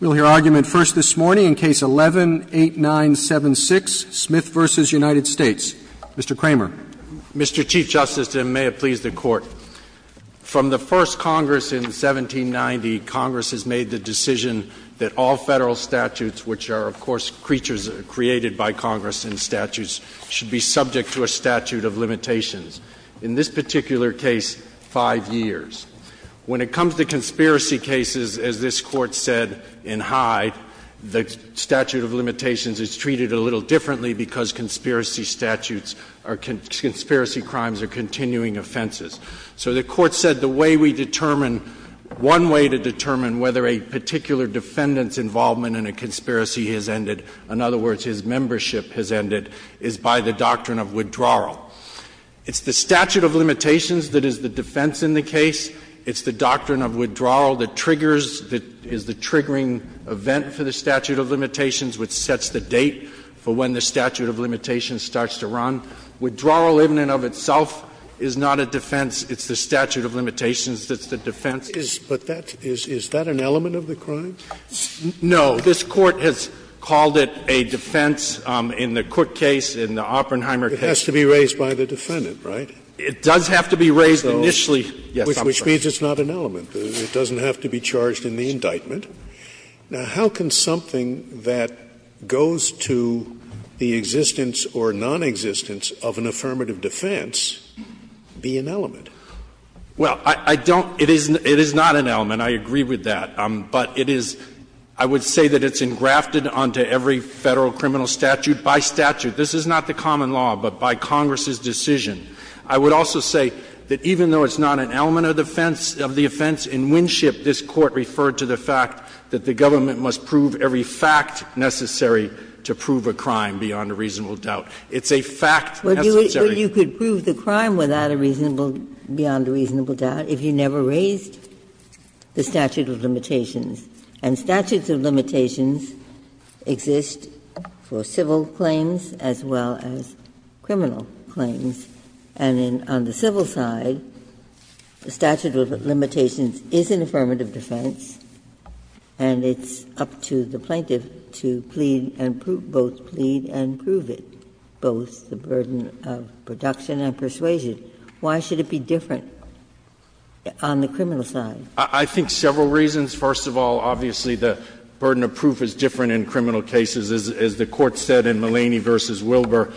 We'll hear argument first this morning in Case 11-8976, Smith v. United States. Mr. Kramer. Mr. Chief Justice, and may it please the Court, from the first Congress in 1790, Congress has made the decision that all Federal statutes, which are, of course, creatures created by Congress in statutes, should be subject to a statute of limitations, in this particular case, 5 years. When it comes to conspiracy cases, as this Court said in Hyde, the statute of limitations is treated a little differently because conspiracy statutes are conspiracy crimes or continuing offenses. So the Court said the way we determine, one way to determine whether a particular defendant's involvement in a conspiracy has ended, in other words, his membership has ended, is by the doctrine of withdrawal. It's the statute of limitations that is the defense in the case. It's the doctrine of withdrawal that triggers, that is the triggering event for the statute of limitations, which sets the date for when the statute of limitations starts to run. Withdrawal, in and of itself, is not a defense. It's the statute of limitations that's the defense. Scalia's is that an element of the crime? No. This Court has called it a defense in the Cook case, in the Oppenheimer case. It has to be raised by the defendant, right? It does have to be raised initially, yes, I'm sorry. Which means it's not an element. It doesn't have to be charged in the indictment. Now, how can something that goes to the existence or nonexistence of an affirmative defense be an element? Well, I don't – it is not an element, I agree with that, but it is – I would say that it's engrafted onto every Federal criminal statute by statute. This is not the common law, but by Congress's decision. I would also say that even though it's not an element of the offense, in Winship this Court referred to the fact that the government must prove every fact necessary to prove a crime beyond a reasonable doubt. It's a fact necessary. But you could prove the crime without a reasonable – beyond a reasonable doubt if you never raised the statute of limitations, and statutes of limitations exist for civil claims as well as criminal claims. And on the civil side, the statute of limitations is an affirmative defense, and it's up to the plaintiff to plead and prove – both plead and prove it, both the burden of production and persuasion. Why should it be different on the criminal side? I think several reasons. First of all, obviously, the burden of proof is different in criminal cases. As the Court said in Mulaney v. Wilbur,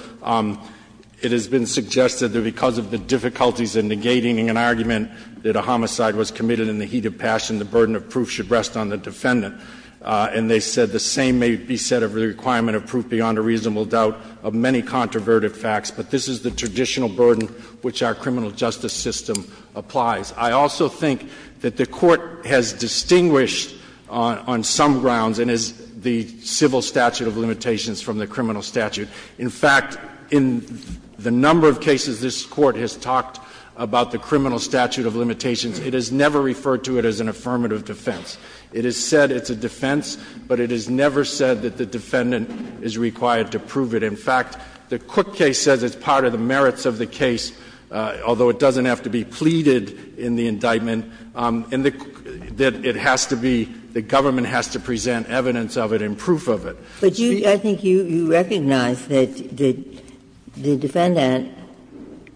it has been suggested that because of the difficulties in negating an argument that a homicide was committed in the heat of passion, the burden of proof should rest on the defendant. And they said the same may be said of the requirement of proof beyond a reasonable doubt of many controversial facts, but this is the traditional burden which our criminal justice system applies. I also think that the Court has distinguished on some grounds, and is the civil statute of limitations from the criminal statute. In fact, in the number of cases this Court has talked about the criminal statute of limitations, it has never referred to it as an affirmative defense. It has said it's a defense, but it has never said that the defendant is required to prove it. In fact, the Cook case says it's part of the merits of the case, although it doesn't have to be pleaded in the indictment, and that it has to be the government has to present evidence of it and proof of it. Ginsburg. I think you recognize that the defendant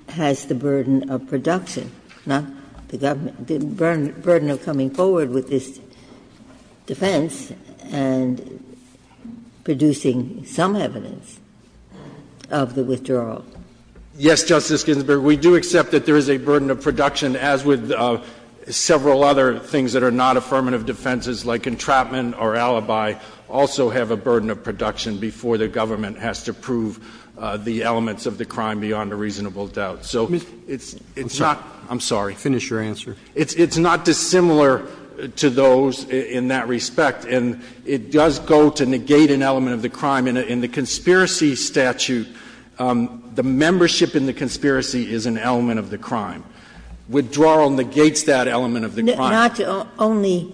has the burden of production, not the government burden of coming forward with this defense and producing some evidence of the withdrawal. Yes, Justice Ginsburg. We do accept that there is a burden of production, as with several other things that are not affirmative defenses, like entrapment or alibi also have a burden of production before the government has to prove the elements of the crime beyond a reasonable doubt. So it's not the same. I'm sorry. Finish your answer. It's not dissimilar to those in that respect, and it does go to negate an element of the crime. In the conspiracy statute, the membership in the conspiracy is an element of the crime. Withdrawal negates that element of the crime. Not only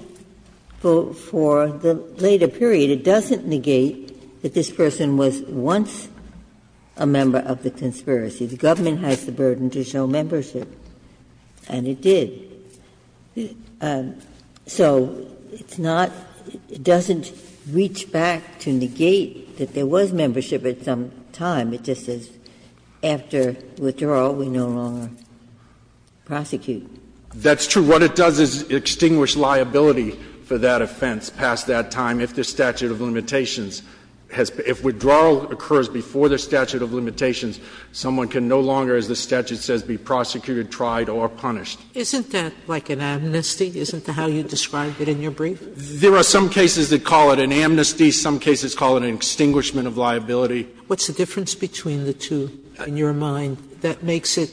for the later period. It doesn't negate that this person was once a member of the conspiracy. The government has the burden to show membership, and it did. So it's not – it doesn't reach back to negate that there was membership at some time. It just says after withdrawal, we no longer prosecute. That's true. What it does is extinguish liability for that offense past that time if the statute of limitations has – if withdrawal occurs before the statute of limitations, someone can no longer, as the statute says, be prosecuted, tried or punished. Isn't that like an amnesty? Isn't that how you described it in your brief? There are some cases that call it an amnesty. Some cases call it an extinguishment of liability. What's the difference between the two, in your mind, that makes it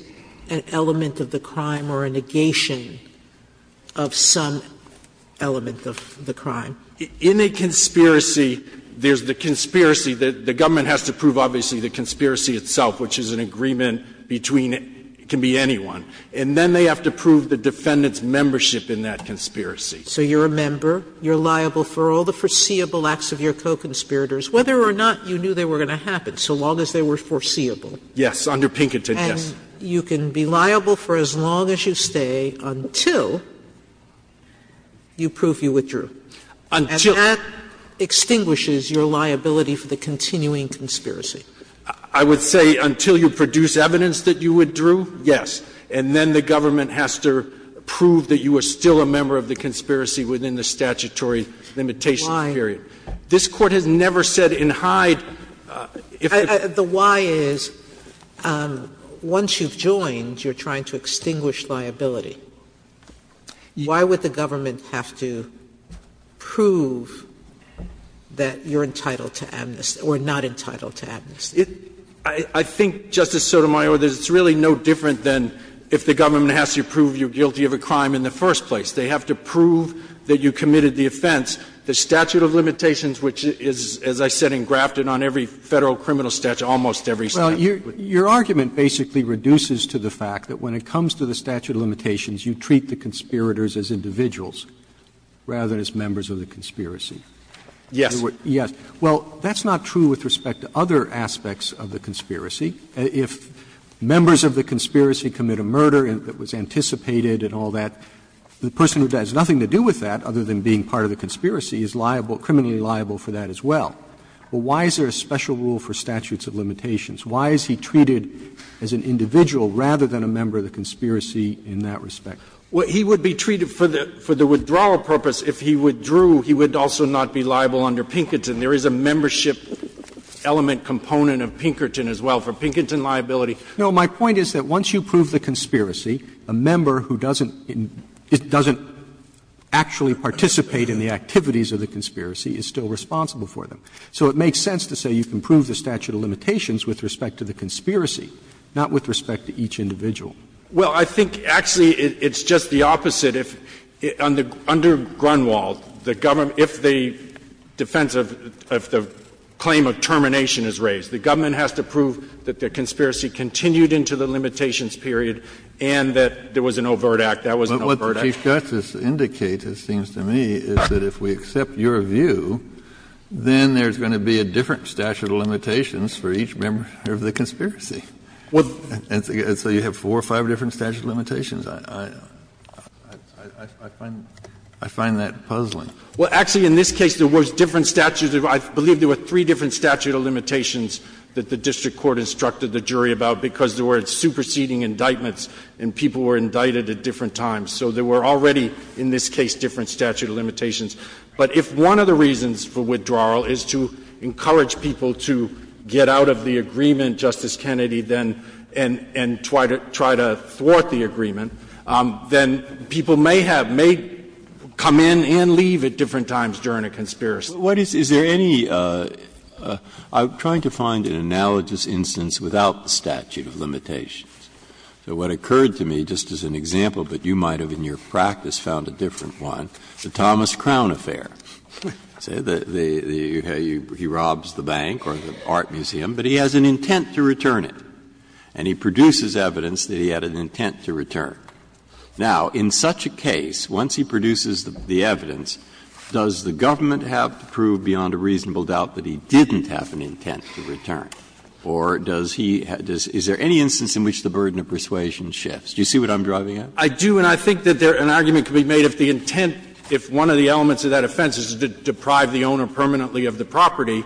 an element of the crime or a negation of some element of the crime? In a conspiracy, there's the conspiracy that the government has to prove, obviously, the conspiracy itself, which is an agreement between – it can be anyone. And then they have to prove the defendant's membership in that conspiracy. So you're a member. You're liable for all the foreseeable acts of your co-conspirators, whether or not you knew they were going to happen, so long as they were foreseeable. Yes. Under Pinkerton, yes. And you can be liable for as long as you stay until you prove you withdrew. Until you withdrew. And that extinguishes your liability for the continuing conspiracy. I would say until you produce evidence that you withdrew, yes. And then the government has to prove that you were still a member of the conspiracy within the statutory limitation period. Why? This Court has never said in Hyde if the – The why is, once you've joined, you're trying to extinguish liability. Why would the government have to prove that you're entitled to amnesty or not entitled to amnesty? I think, Justice Sotomayor, there's really no different than if the government has to prove you're guilty of a crime in the first place. They have to prove that you committed the offense. The statute of limitations, which is, as I said, engrafted on every Federal criminal statute, almost every statute. Well, your argument basically reduces to the fact that when it comes to the statute of limitations, you treat the conspirators as individuals rather than as members of the conspiracy. Yes. Yes. Well, that's not true with respect to other aspects of the conspiracy. If members of the conspiracy commit a murder that was anticipated and all that, the person who has nothing to do with that other than being part of the conspiracy is liable, criminally liable for that as well. Well, why is there a special rule for statutes of limitations? Why is he treated as an individual rather than a member of the conspiracy in that respect? Well, he would be treated for the withdrawal purpose. If he withdrew, he would also not be liable under Pinkerton. And there is a membership element component of Pinkerton as well, for Pinkerton liability. No, my point is that once you prove the conspiracy, a member who doesn't actually participate in the activities of the conspiracy is still responsible for them. So it makes sense to say you can prove the statute of limitations with respect to the conspiracy, not with respect to each individual. Well, I think actually it's just the opposite. Under Grunwald, if the defense of the claim of termination is raised, the government has to prove that the conspiracy continued into the limitations period and that there was an overt act. That was an overt act. But what the Chief Justice indicates, it seems to me, is that if we accept your view, then there's going to be a different statute of limitations for each member of the conspiracy. And so you have four or five different statute of limitations. I find that puzzling. Well, actually, in this case, there was different statute of limitations. I believe there were three different statute of limitations that the district court instructed the jury about, because there were superseding indictments and people were indicted at different times. So there were already, in this case, different statute of limitations. But if one of the reasons for withdrawal is to encourage people to get out of the agreement, then people may have, may come in and leave at different times during a conspiracy. Breyer, is there any – I'm trying to find an analogous instance without the statute of limitations. So what occurred to me, just as an example, but you might have, in your practice, found a different one, the Thomas Crown Affair. He robs the bank or the art museum, but he has an intent to return it. And he produces evidence that he had an intent to return. Now, in such a case, once he produces the evidence, does the government have to prove beyond a reasonable doubt that he didn't have an intent to return? Or does he – is there any instance in which the burden of persuasion shifts? Do you see what I'm driving at? I do, and I think that there – an argument could be made if the intent, if one of the elements of that offense is to deprive the owner permanently of the property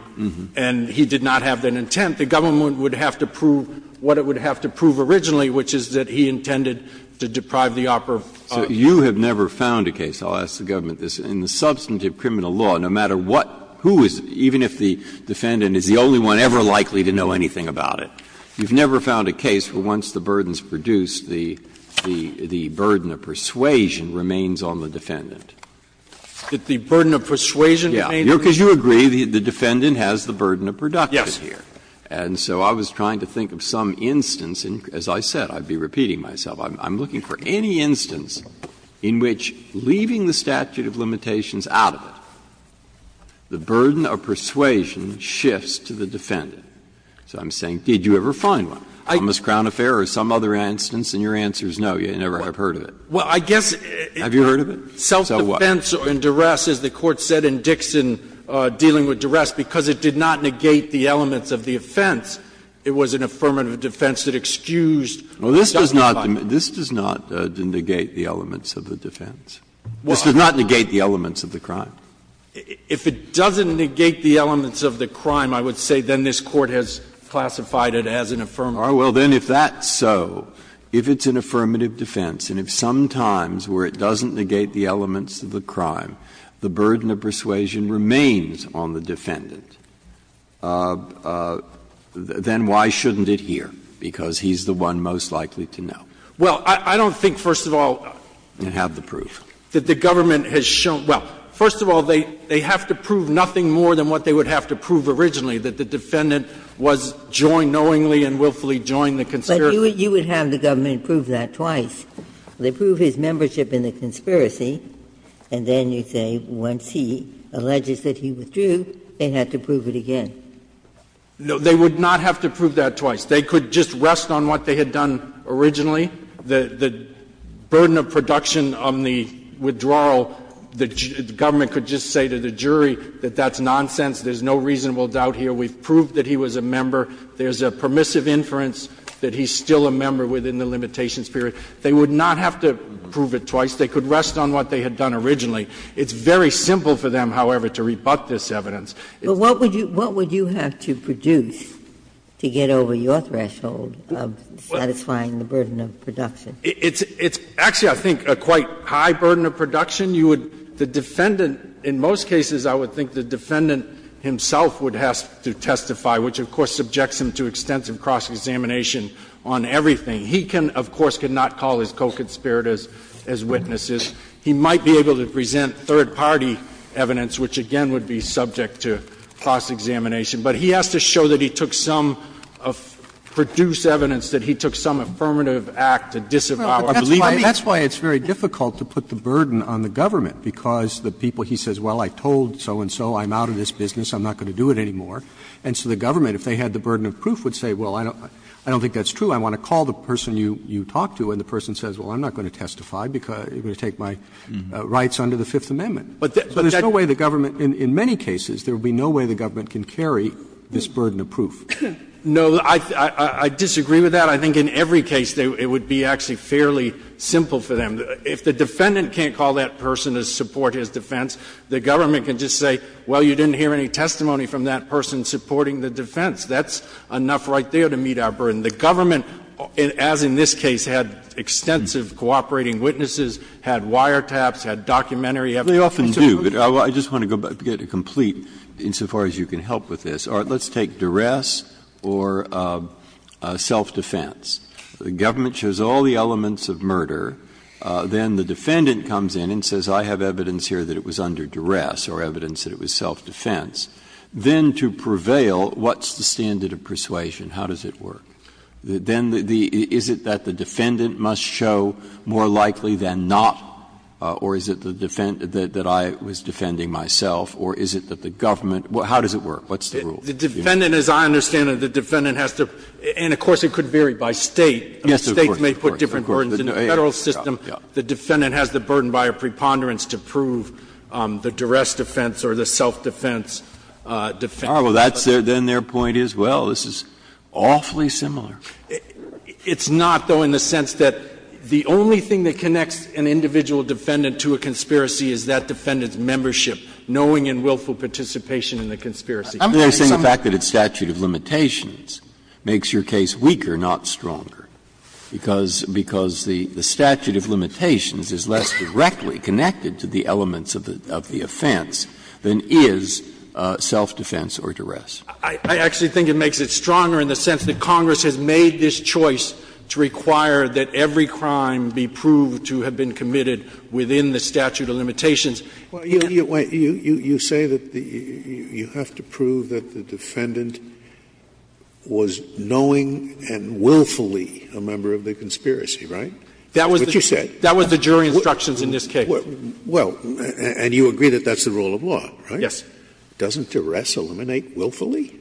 and he did not have that intent, the government would have to prove what it would have to prove originally, which is that he intended to deprive the operative of the property. Breyer, you have never found a case, I'll ask the government this, in the substantive criminal law, no matter what, who is, even if the defendant is the only one ever likely to know anything about it, you've never found a case where once the burden is produced, the burden of persuasion remains on the defendant? That the burden of persuasion remains on the defendant? Breyer, because you agree the defendant has the burden of production here. Yes. And so I was trying to think of some instance, and as I said, I'd be repeating myself, I'm looking for any instance in which, leaving the statute of limitations out of it, the burden of persuasion shifts to the defendant. So I'm saying, did you ever find one, Thomas Crowne Affair or some other instance, and your answer is no, you never have heard of it. Well, I guess it's a self-defense or a duress, as the Court said in Dixon, I don't think it's dealing with duress, because it did not negate the elements of the offense. It was an affirmative defense that excused the defendant. Well, this does not negate the elements of the defense. This does not negate the elements of the crime. If it doesn't negate the elements of the crime, I would say then this Court has classified it as an affirmative. Well, then if that's so, if it's an affirmative defense, and if sometimes where it doesn't negate the elements of the crime, the burden of persuasion remains on the defendant, then why shouldn't it here, because he's the one most likely to know? Well, I don't think, first of all, that the government has shown – well, first of all, they have to prove nothing more than what they would have to prove originally, that the defendant was joined knowingly and willfully joined the conspiracy. But you would have the government prove that twice. They prove his membership in the conspiracy, and then you say once he alleges that he withdrew, they have to prove it again. No, they would not have to prove that twice. They could just rest on what they had done originally. The burden of production on the withdrawal, the government could just say to the jury that that's nonsense, there's no reasonable doubt here, we've proved that he was a member, there's a permissive inference that he's still a member within the limitations period. They would not have to prove it twice. They could rest on what they had done originally. It's very simple for them, however, to rebut this evidence. Ginsburg. But what would you have to produce to get over your threshold of satisfying the burden of production? It's actually, I think, a quite high burden of production. You would – the defendant, in most cases, I would think the defendant himself would have to testify, which, of course, subjects him to extensive cross-examination on everything. He can, of course, cannot call his co-conspirators as witnesses. He might be able to present third-party evidence, which again would be subject to cross-examination. But he has to show that he took some – produce evidence that he took some affirmative act to disavow or believe. That's why it's very difficult to put the burden on the government, because the people he says, well, I told so-and-so I'm out of this business, I'm not going to do it anymore. And so the government, if they had the burden of proof, would say, well, I don't think that's true. I want to call the person you talked to. And the person says, well, I'm not going to testify because I'm going to take my rights under the Fifth Amendment. But there's no way the government – in many cases, there would be no way the government can carry this burden of proof. No, I disagree with that. I think in every case it would be actually fairly simple for them. If the defendant can't call that person to support his defense, the government can just say, well, you didn't hear any testimony from that person supporting the defense. That's enough right there to meet our burden. The government, as in this case, had extensive cooperating witnesses, had wiretaps, had documentary evidence. Breyer. They often do. I just want to get it complete insofar as you can help with this. Let's take duress or self-defense. The government shows all the elements of murder. Then the defendant comes in and says, I have evidence here that it was under duress or evidence that it was self-defense. Then to prevail, what's the standard of persuasion? How does it work? Then the – is it that the defendant must show more likely than not, or is it the defendant that I was defending myself, or is it that the government – how does it work? What's the rule? The defendant, as I understand it, the defendant has to – and, of course, it could vary by State. State may put different burdens in the Federal system. The defendant has the burden by a preponderance to prove the duress defense or the self-defense defense. Well, that's their – then their point is, well, this is awfully similar. It's not, though, in the sense that the only thing that connects an individual defendant to a conspiracy is that defendant's membership, knowing and willful participation in the conspiracy. Breyer. I'm saying the fact that it's statute of limitations makes your case weaker, not stronger, because the statute of limitations is less directly connected to the elements of the offense than is self-defense or duress. I actually think it makes it stronger in the sense that Congress has made this choice to require that every crime be proved to have been committed within the statute of limitations. Scalia. Well, you say that you have to prove that the defendant was knowing and willfully a member of the conspiracy, right? That's what you said. That was the jury instructions in this case. Well, and you agree that that's the rule of law, right? Yes. Doesn't duress eliminate willfully?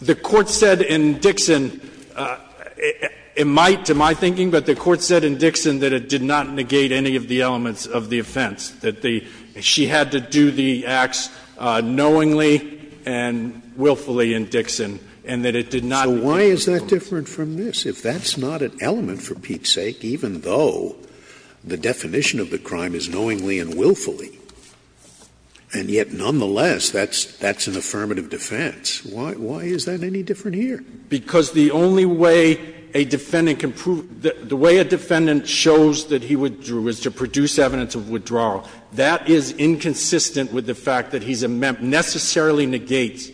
The Court said in Dixon, it might to my thinking, but the Court said in Dixon that it did not negate any of the elements of the offense, that she had to do the acts knowingly and willfully in Dixon, and that it did not. So why is that different from this? If that's not an element, for Pete's sake, even though the definition of the crime is knowingly and willfully, and yet, nonetheless, that's an affirmative defense, why is that any different here? Because the only way a defendant can prove the way a defendant shows that he withdrew is to produce evidence of withdrawal. That is inconsistent with the fact that he's a necessarily negates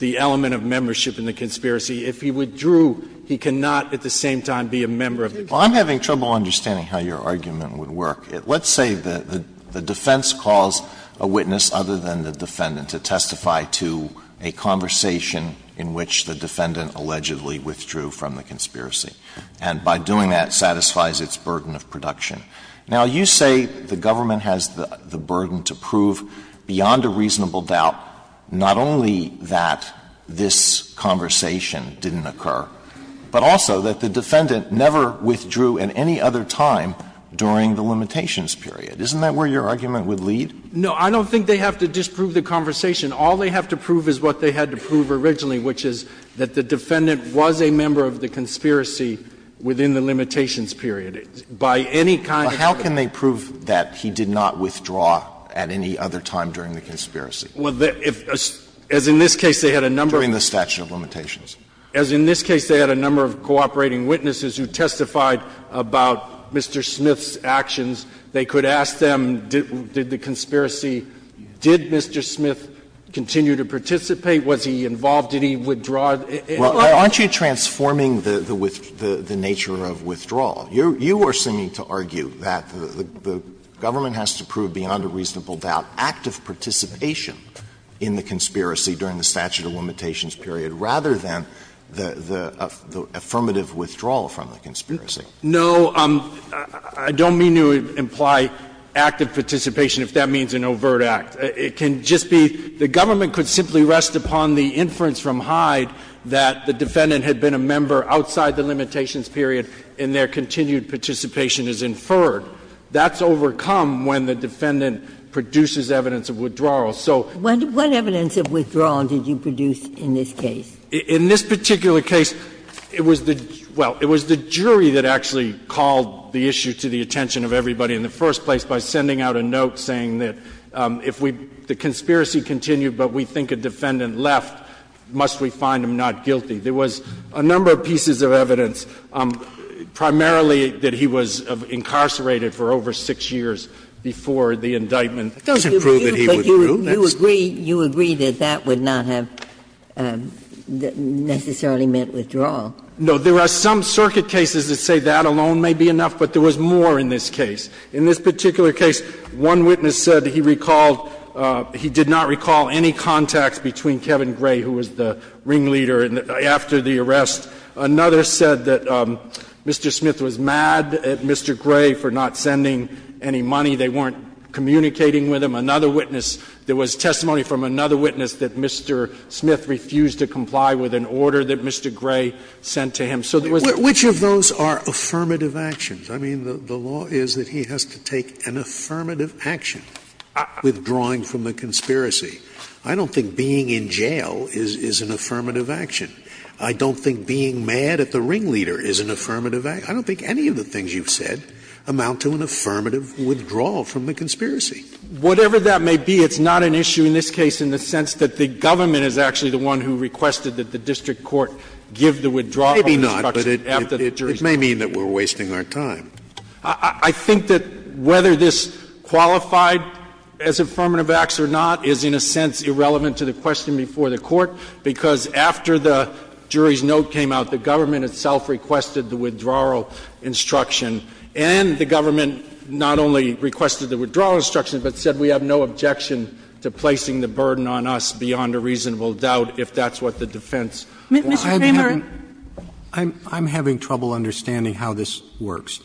the element of membership in the conspiracy. If he withdrew, he cannot at the same time be a member of the conspiracy. Well, I'm having trouble understanding how your argument would work. Let's say the defense calls a witness other than the defendant to testify to a conversation in which the defendant allegedly withdrew from the conspiracy, and by doing that, satisfies its burden of production. Now, you say the government has the burden to prove beyond a reasonable doubt not only that this conversation didn't occur, but also that the defendant never withdrew at any other time during the limitations period. Isn't that where your argument would lead? No. I don't think they have to disprove the conversation. All they have to prove is what they had to prove originally, which is that the defendant was a member of the conspiracy within the limitations period. By any kind of evidence. But how can they prove that he did not withdraw at any other time during the conspiracy? Well, if as in this case, they had a number of. During the statute of limitations. As in this case, they had a number of cooperating witnesses who testified about Mr. Smith's actions. They could ask them, did the conspiracy, did Mr. Smith continue to participate? Was he involved? Did he withdraw? Aren't you transforming the nature of withdrawal? You are seeming to argue that the government has to prove beyond a reasonable doubt active participation in the conspiracy during the statute of limitations period, rather than the affirmative withdrawal from the conspiracy. No, I don't mean to imply active participation if that means an overt act. It can just be the government could simply rest upon the inference from Hyde that the defendant had been a member outside the limitations period and their continued participation is inferred. That's overcome when the defendant produces evidence of withdrawal. So. What evidence of withdrawal did you produce in this case? In this particular case, it was the jury that actually called the issue to the attention of everybody in the first place by sending out a note saying that if we, the conspiracy continued, but we think a defendant left, must we find him not guilty? There was a number of pieces of evidence, primarily that he was incarcerated for over 6 years before the indictment. That doesn't prove that he withdrew. You agree that that would not have necessarily meant withdrawal. No. There are some circuit cases that say that alone may be enough, but there was more in this case. In this particular case, one witness said he recalled he did not recall any contacts between Kevin Gray, who was the ringleader, after the arrest. Another said that Mr. Smith was mad at Mr. Gray for not sending any money. They weren't communicating with him. Another witness, there was testimony from another witness that Mr. Smith refused to comply with an order that Mr. Gray sent to him. So there was not. Which of those are affirmative actions? I mean, the law is that he has to take an affirmative action withdrawing from the conspiracy. I don't think being in jail is an affirmative action. I don't think being mad at the ringleader is an affirmative action. I don't think any of the things you've said amount to an affirmative withdrawal from the conspiracy. Whatever that may be, it's not an issue in this case in the sense that the government is actually the one who requested that the district court give the withdrawal instruction after the jury's note came out. Maybe not, but it may mean that we're wasting our time. I think that whether this qualified as affirmative acts or not is in a sense irrelevant to the question before the Court, because after the jury's note came out, the government itself requested the withdrawal instruction, and the government not only requested the withdrawal instruction, but said we have no objection to placing the burden on us beyond a reasonable doubt if that's what the defense wants. I'm having trouble understanding how this works.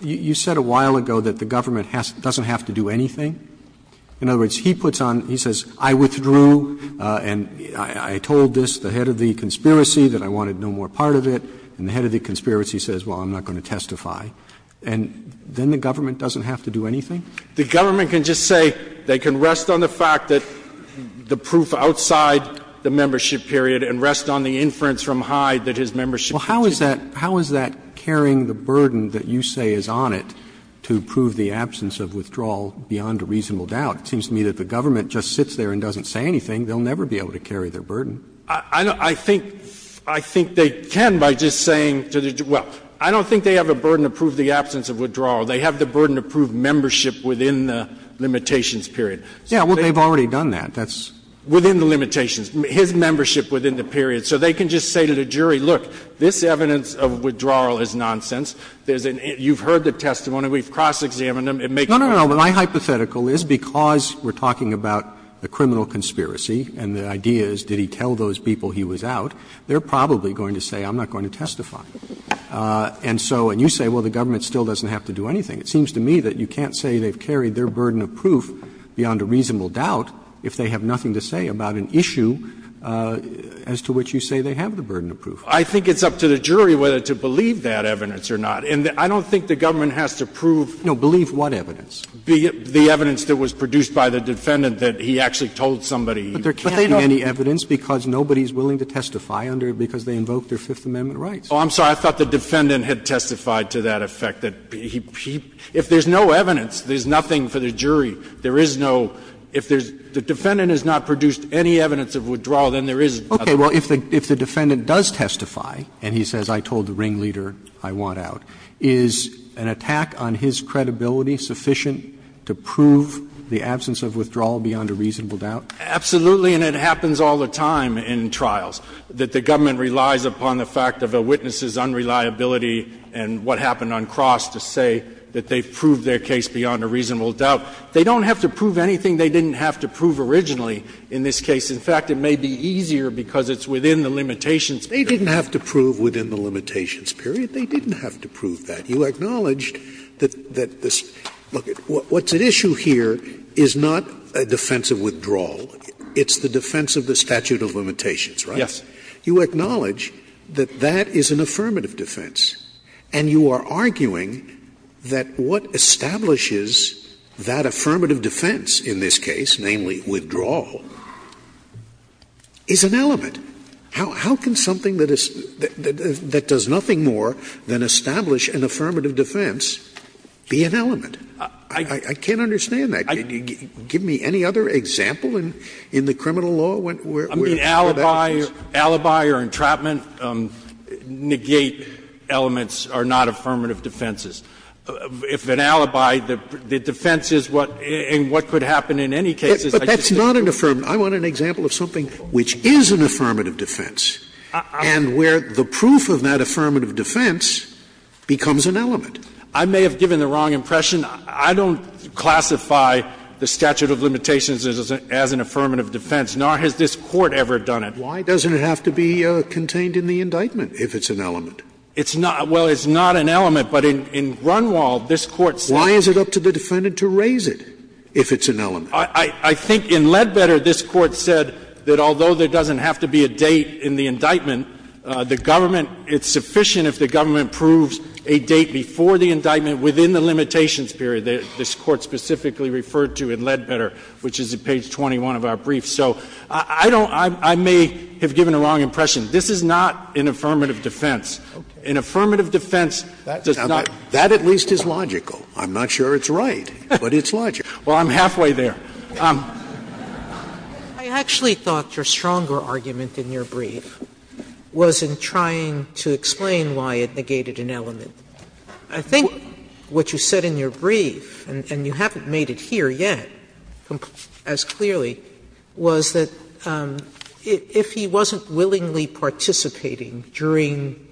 You said a while ago that the government doesn't have to do anything. In other words, he puts on, he says, I withdrew and I told this, the head of the conspiracy, that I wanted no more part of it, and the head of the conspiracy says, well, I'm not going to testify. And then the government doesn't have to do anything? The government can just say they can rest on the fact that the proof outside the membership period and rest on the inference from Hyde that his membership period is not true. Well, how is that carrying the burden that you say is on it to prove the absence of withdrawal beyond a reasonable doubt? It seems to me that the government just sits there and doesn't say anything. They'll never be able to carry their burden. I think they can by just saying to the jury, well, I don't think they have a burden to prove the absence of withdrawal. They have the burden to prove membership within the limitations period. Yeah, well, they've already done that. That's within the limitations, his membership within the period. So they can just say to the jury, look, this evidence of withdrawal is nonsense. You've heard the testimony. We've cross-examined them. It makes no difference. No, no, no. My hypothetical is because we're talking about a criminal conspiracy and the idea is did he tell those people he was out, they're probably going to say I'm not going to testify. And so, and you say, well, the government still doesn't have to do anything. It seems to me that you can't say they've carried their burden of proof beyond a reasonable doubt if they have nothing to say about an issue as to which you say they have the burden to prove. I think it's up to the jury whether to believe that evidence or not. And I don't think the government has to prove. No, believe what evidence? The evidence that was produced by the defendant that he actually told somebody. But there can't be any evidence because nobody is willing to testify under it because they invoked their Fifth Amendment rights. Oh, I'm sorry. I thought the defendant had testified to that effect, that he, if there's no evidence, there's nothing for the jury. There is no, if there's, the defendant has not produced any evidence of withdrawal, then there is nothing. Okay. Well, if the defendant does testify and he says I told the ringleader I want out, is an attack on his credibility sufficient to prove the absence of withdrawal beyond a reasonable doubt? Absolutely, and it happens all the time in trials, that the government relies upon the fact of a witness's unreliability and what happened on cross to say that they've proved their case beyond a reasonable doubt. They don't have to prove anything they didn't have to prove originally in this case. In fact, it may be easier because it's within the limitations period. They didn't have to prove within the limitations period. They didn't have to prove that. You acknowledged that this, look, what's at issue here is not a defense of withdrawal. It's the defense of the statute of limitations, right? Yes. You acknowledge that that is an affirmative defense. And you are arguing that what establishes that affirmative defense in this case, namely withdrawal, is an element. How can something that is, that does nothing more than establish an affirmative defense be an element? I can't understand that. Give me any other example in the criminal law where that is. I mean, alibi or entrapment negate elements are not affirmative defenses. If an alibi, the defense is what, and what could happen in any case is I just say I want an example of something which is an affirmative defense and where the proof of that affirmative defense becomes an element. I may have given the wrong impression. I don't classify the statute of limitations as an affirmative defense, nor has this Court ever done it. Why doesn't it have to be contained in the indictment if it's an element? It's not an element, but in Grunwald, this Court said. I think in Ledbetter, this Court said that although there doesn't have to be a date in the indictment, the government, it's sufficient if the government proves a date before the indictment within the limitations period that this Court specifically referred to in Ledbetter, which is at page 21 of our brief. So I don't — I may have given the wrong impression. This is not an affirmative defense. An affirmative defense does not — That at least is logical. I'm not sure it's right, but it's logical. Well, I'm halfway there. Sotomayor, I actually thought your stronger argument in your brief was in trying to explain why it negated an element. I think what you said in your brief, and you haven't made it here yet as clearly, was that if he wasn't willingly participating during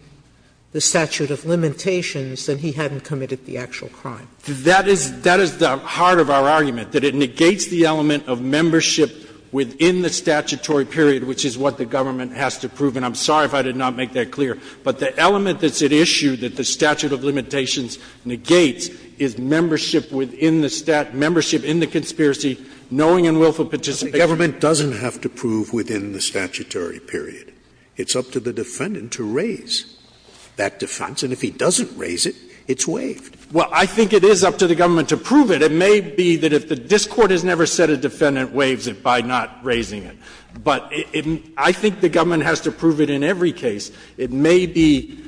the statute of limitations, then he hadn't committed the actual crime. That is — that is the heart of our argument, that it negates the element of membership within the statutory period, which is what the government has to prove. And I'm sorry if I did not make that clear. But the element that's at issue that the statute of limitations negates is membership within the — membership in the conspiracy, knowing and willful participation. The government doesn't have to prove within the statutory period. It's up to the defendant to raise that defense. And if he doesn't raise it, it's waived. Well, I think it is up to the government to prove it. It may be that if this Court has never said a defendant waives it by not raising it. But I think the government has to prove it in every case. It may be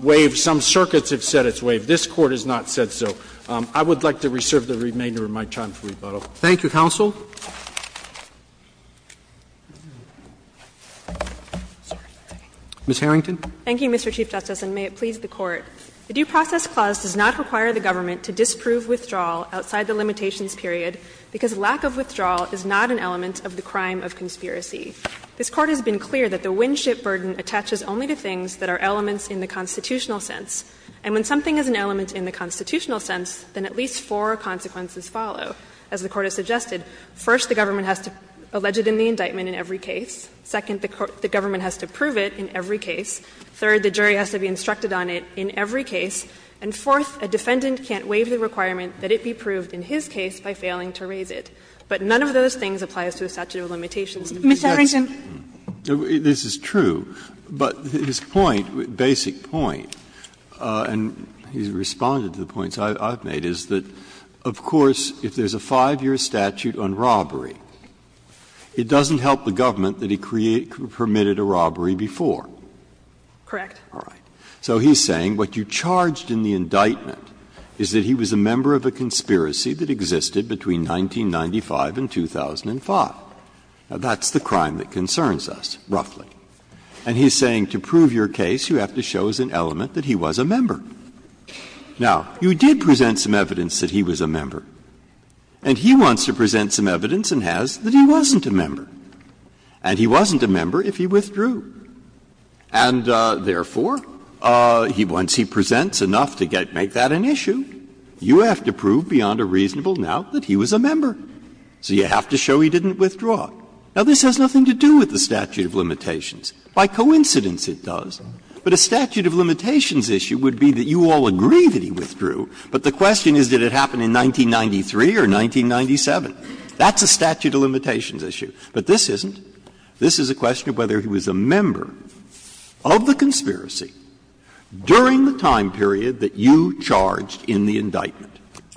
waived. Some circuits have said it's waived. This Court has not said so. I would like to reserve the remainder of my time for rebuttal. Roberts. Thank you, counsel. Ms. Harrington. Thank you, Mr. Chief Justice, and may it please the Court. The Due Process Clause does not require the government to disprove withdrawal outside the limitations period because lack of withdrawal is not an element of the crime of conspiracy. This Court has been clear that the Winship Burden attaches only to things that are elements in the constitutional sense. And when something is an element in the constitutional sense, then at least four consequences follow. As the Court has suggested, first, the government has to allege it in the indictment in every case. Second, the government has to prove it in every case. Third, the jury has to be instructed on it in every case. And fourth, a defendant can't waive the requirement that it be proved in his case by failing to raise it. But none of those things applies to a statute of limitations. Ms. Harrington. This is true, but his point, basic point, and he's responded to the points I've made, is that, of course, if there's a 5-year statute on robbery, it doesn't help the government that he permitted a robbery before. Correct. All right. So he's saying what you charged in the indictment is that he was a member of a conspiracy that existed between 1995 and 2005. Now, that's the crime that concerns us, roughly. And he's saying to prove your case, you have to show as an element that he was a member. Now, you did present some evidence that he was a member, and he wants to present some evidence and has that he wasn't a member. And he wasn't a member if he withdrew. And, therefore, once he presents enough to make that an issue, you have to prove beyond a reasonable doubt that he was a member. So you have to show he didn't withdraw. Now, this has nothing to do with the statute of limitations. By coincidence, it does. But a statute of limitations issue would be that you all agree that he withdrew, but the question is, did it happen in 1993 or 1997? That's a statute of limitations issue. But this isn't. This is a question of whether he was a member of the conspiracy during the time period that you charged in the indictment.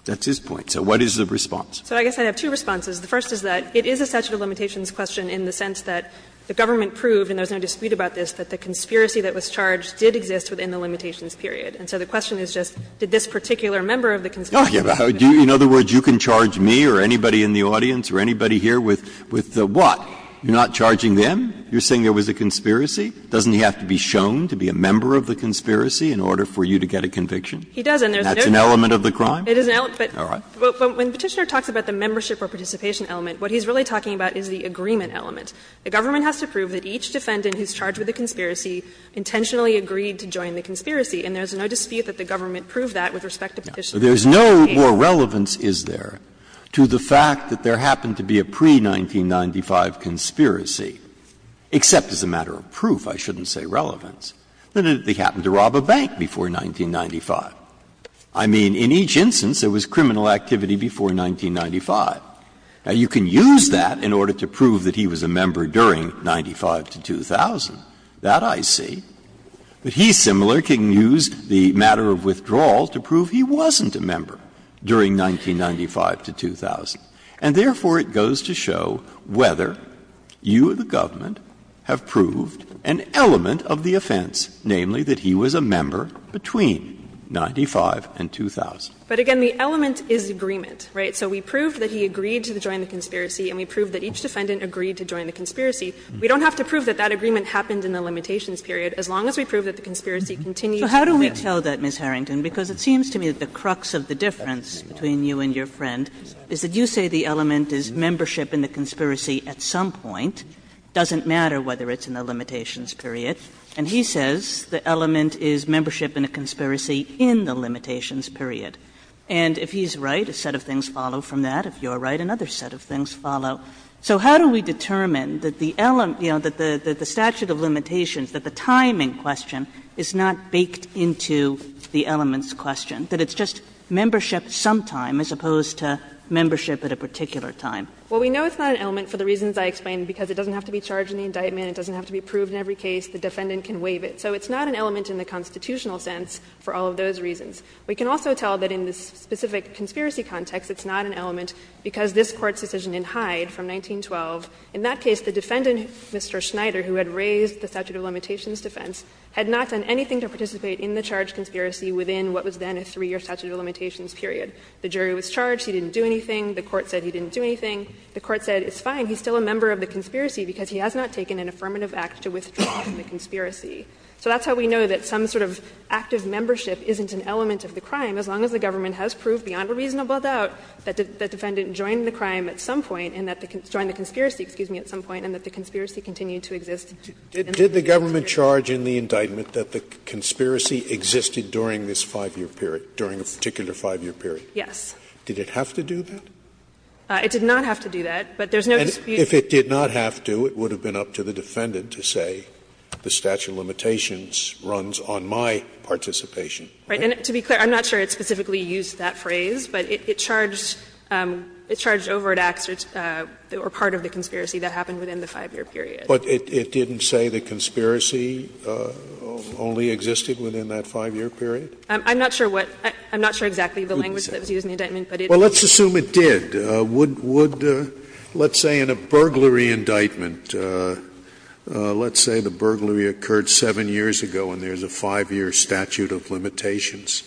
That's his point. So what is the response? So I guess I have two responses. The first is that it is a statute of limitations question in the sense that the government proved, and there's no dispute about this, that the conspiracy that was charged did exist within the limitations period. And so the question is just, did this particular member of the conspiracy exist? In other words, you can charge me or anybody in the audience or anybody here with the what? You're not charging them? You're saying there was a conspiracy? Doesn't he have to be shown to be a member of the conspiracy in order for you to get a conviction? He does. And there's no dispute. And that's an element of the crime? It is an element, but when Petitioner talks about the membership or participation element, what he's really talking about is the agreement element. The government has to prove that each defendant who's charged with a conspiracy intentionally agreed to join the conspiracy, and there's no dispute that the government proved that with respect to Petitioner. So there's no more relevance, is there, to the fact that there happened to be a pre-1995 conspiracy, except as a matter of proof, I shouldn't say relevance, that they happened to rob a bank before 1995. I mean, in each instance, there was criminal activity before 1995. Now, you can use that in order to prove that he was a member during 1995 to 2000. That I see. But he, similar, can use the matter of withdrawal to prove he wasn't a member during 1995 to 2000. And therefore, it goes to show whether you or the government have proved an element of the offense, namely that he was a member between 1995 and 2000. But again, the element is agreement, right? So we proved that he agreed to join the conspiracy, and we proved that each defendant agreed to join the conspiracy. We don't have to prove that that agreement happened in the limitations period, as long as we prove that the conspiracy continues to prevail. Kagan So how do we tell that, Ms. Harrington? Because it seems to me that the crux of the difference between you and your friend is that you say the element is membership in the conspiracy at some point. It doesn't matter whether it's in the limitations period. And he says the element is membership in a conspiracy in the limitations period. And if he's right, a set of things follow from that. If you're right, another set of things follow. So how do we determine that the element, you know, that the statute of limitations, that the time in question is not baked into the elements question, that it's just membership sometime as opposed to membership at a particular time? Harrington Well, we know it's not an element for the reasons I explained, because it doesn't have to be charged in the indictment, it doesn't have to be proved in every case. The defendant can waive it. So it's not an element in the constitutional sense for all of those reasons. We can also tell that in the specific conspiracy context, it's not an element because this Court's decision in Hyde from 1912, in that case, the defendant, Mr. Schneider, who had raised the statute of limitations defense, had not done anything to participate in the charged conspiracy within what was then a 3-year statute of limitations period. The jury was charged, he didn't do anything, the court said he didn't do anything. The court said, it's fine, he's still a member of the conspiracy because he has not taken an affirmative act to withdraw from the conspiracy. So that's how we know that some sort of active membership isn't an element of the crime, as long as the government has proved beyond a reasonable doubt that the defendant joined the crime at some point and that the conspiracy, excuse me, at some point and that the conspiracy continued to exist. Scalia, did the government charge in the indictment that the conspiracy existed during this 5-year period, during a particular 5-year period? Yes. Did it have to do that? It did not have to do that, but there's no dispute. And if it did not have to, it would have been up to the defendant to say the statute of limitations runs on my participation, right? And to be clear, I'm not sure it specifically used that phrase, but it charged over at Axe or part of the conspiracy that happened within the 5-year period. But it didn't say the conspiracy only existed within that 5-year period? I'm not sure what – I'm not sure exactly the language that was used in the indictment, but it did. Well, let's assume it did. Would, let's say in a burglary indictment, let's say the burglary occurred 7 years ago and there's a 5-year statute of limitations.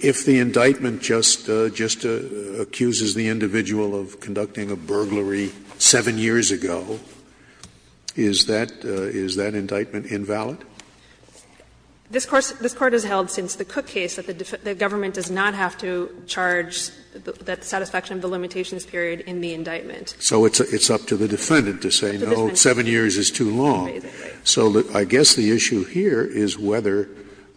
If the indictment just accuses the individual of conducting a burglary 7 years ago, is that, is that indictment invalid? This Court has held since the Cook case that the government does not have to charge that satisfaction of the limitations period in the indictment. So it's up to the defendant to say, no, 7 years is too long. So I guess the issue here is whether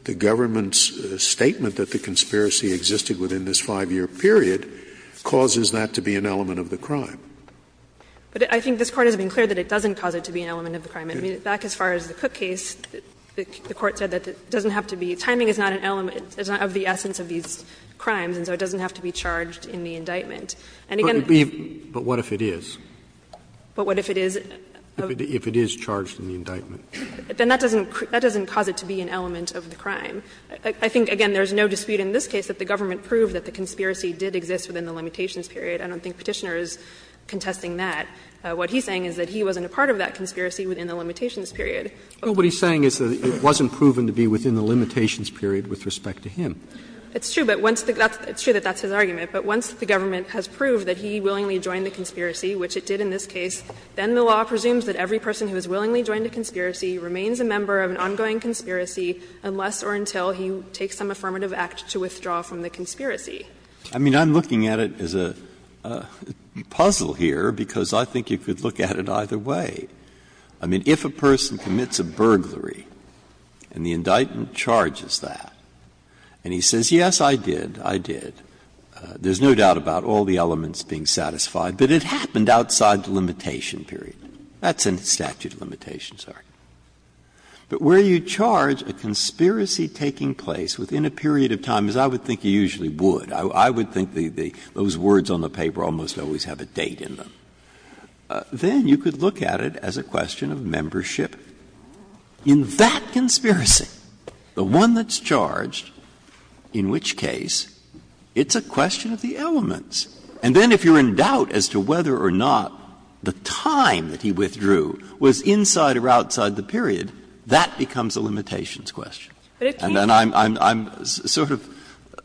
the government's statement that the conspiracy existed within this 5-year period causes that to be an element of the crime. But I think this Court has been clear that it doesn't cause it to be an element of the crime. I mean, back as far as the Cook case, the Court said that it doesn't have to be – timing is not an element of the essence of these crimes, and so it doesn't have to be charged in the indictment. And again, the – But what if it is? But what if it is? If it is charged in the indictment. Then that doesn't cause it to be an element of the crime. I think, again, there is no dispute in this case that the government proved that the conspiracy did exist within the limitations period. I don't think Petitioner is contesting that. What he's saying is that he wasn't a part of that conspiracy within the limitations period. But what he's saying is that it wasn't proven to be within the limitations period with respect to him. It's true, but once the – it's true that that's his argument. But once the government has proved that he willingly joined the conspiracy, which it did in this case, then the law presumes that every person who has willingly joined a conspiracy remains a member of an ongoing conspiracy unless or until he takes some affirmative act to withdraw from the conspiracy. I mean, I'm looking at it as a puzzle here, because I think you could look at it either way. I mean, if a person commits a burglary and the indictment charges that, and he says, yes, I did, I did, there's no doubt about all the elements being satisfied, but it happened outside the limitation period, that's in statute of limitations, sorry. But where you charge a conspiracy taking place within a period of time, as I would think you usually would, I would think the – those words on the paper almost always have a date in them, then you could look at it as a question of membership. In that conspiracy, the one that's charged, in which case, it's a question of the elements. And then if you're in doubt as to whether or not the time that he withdrew was inside or outside the period, that becomes a limitations question. And I'm sort of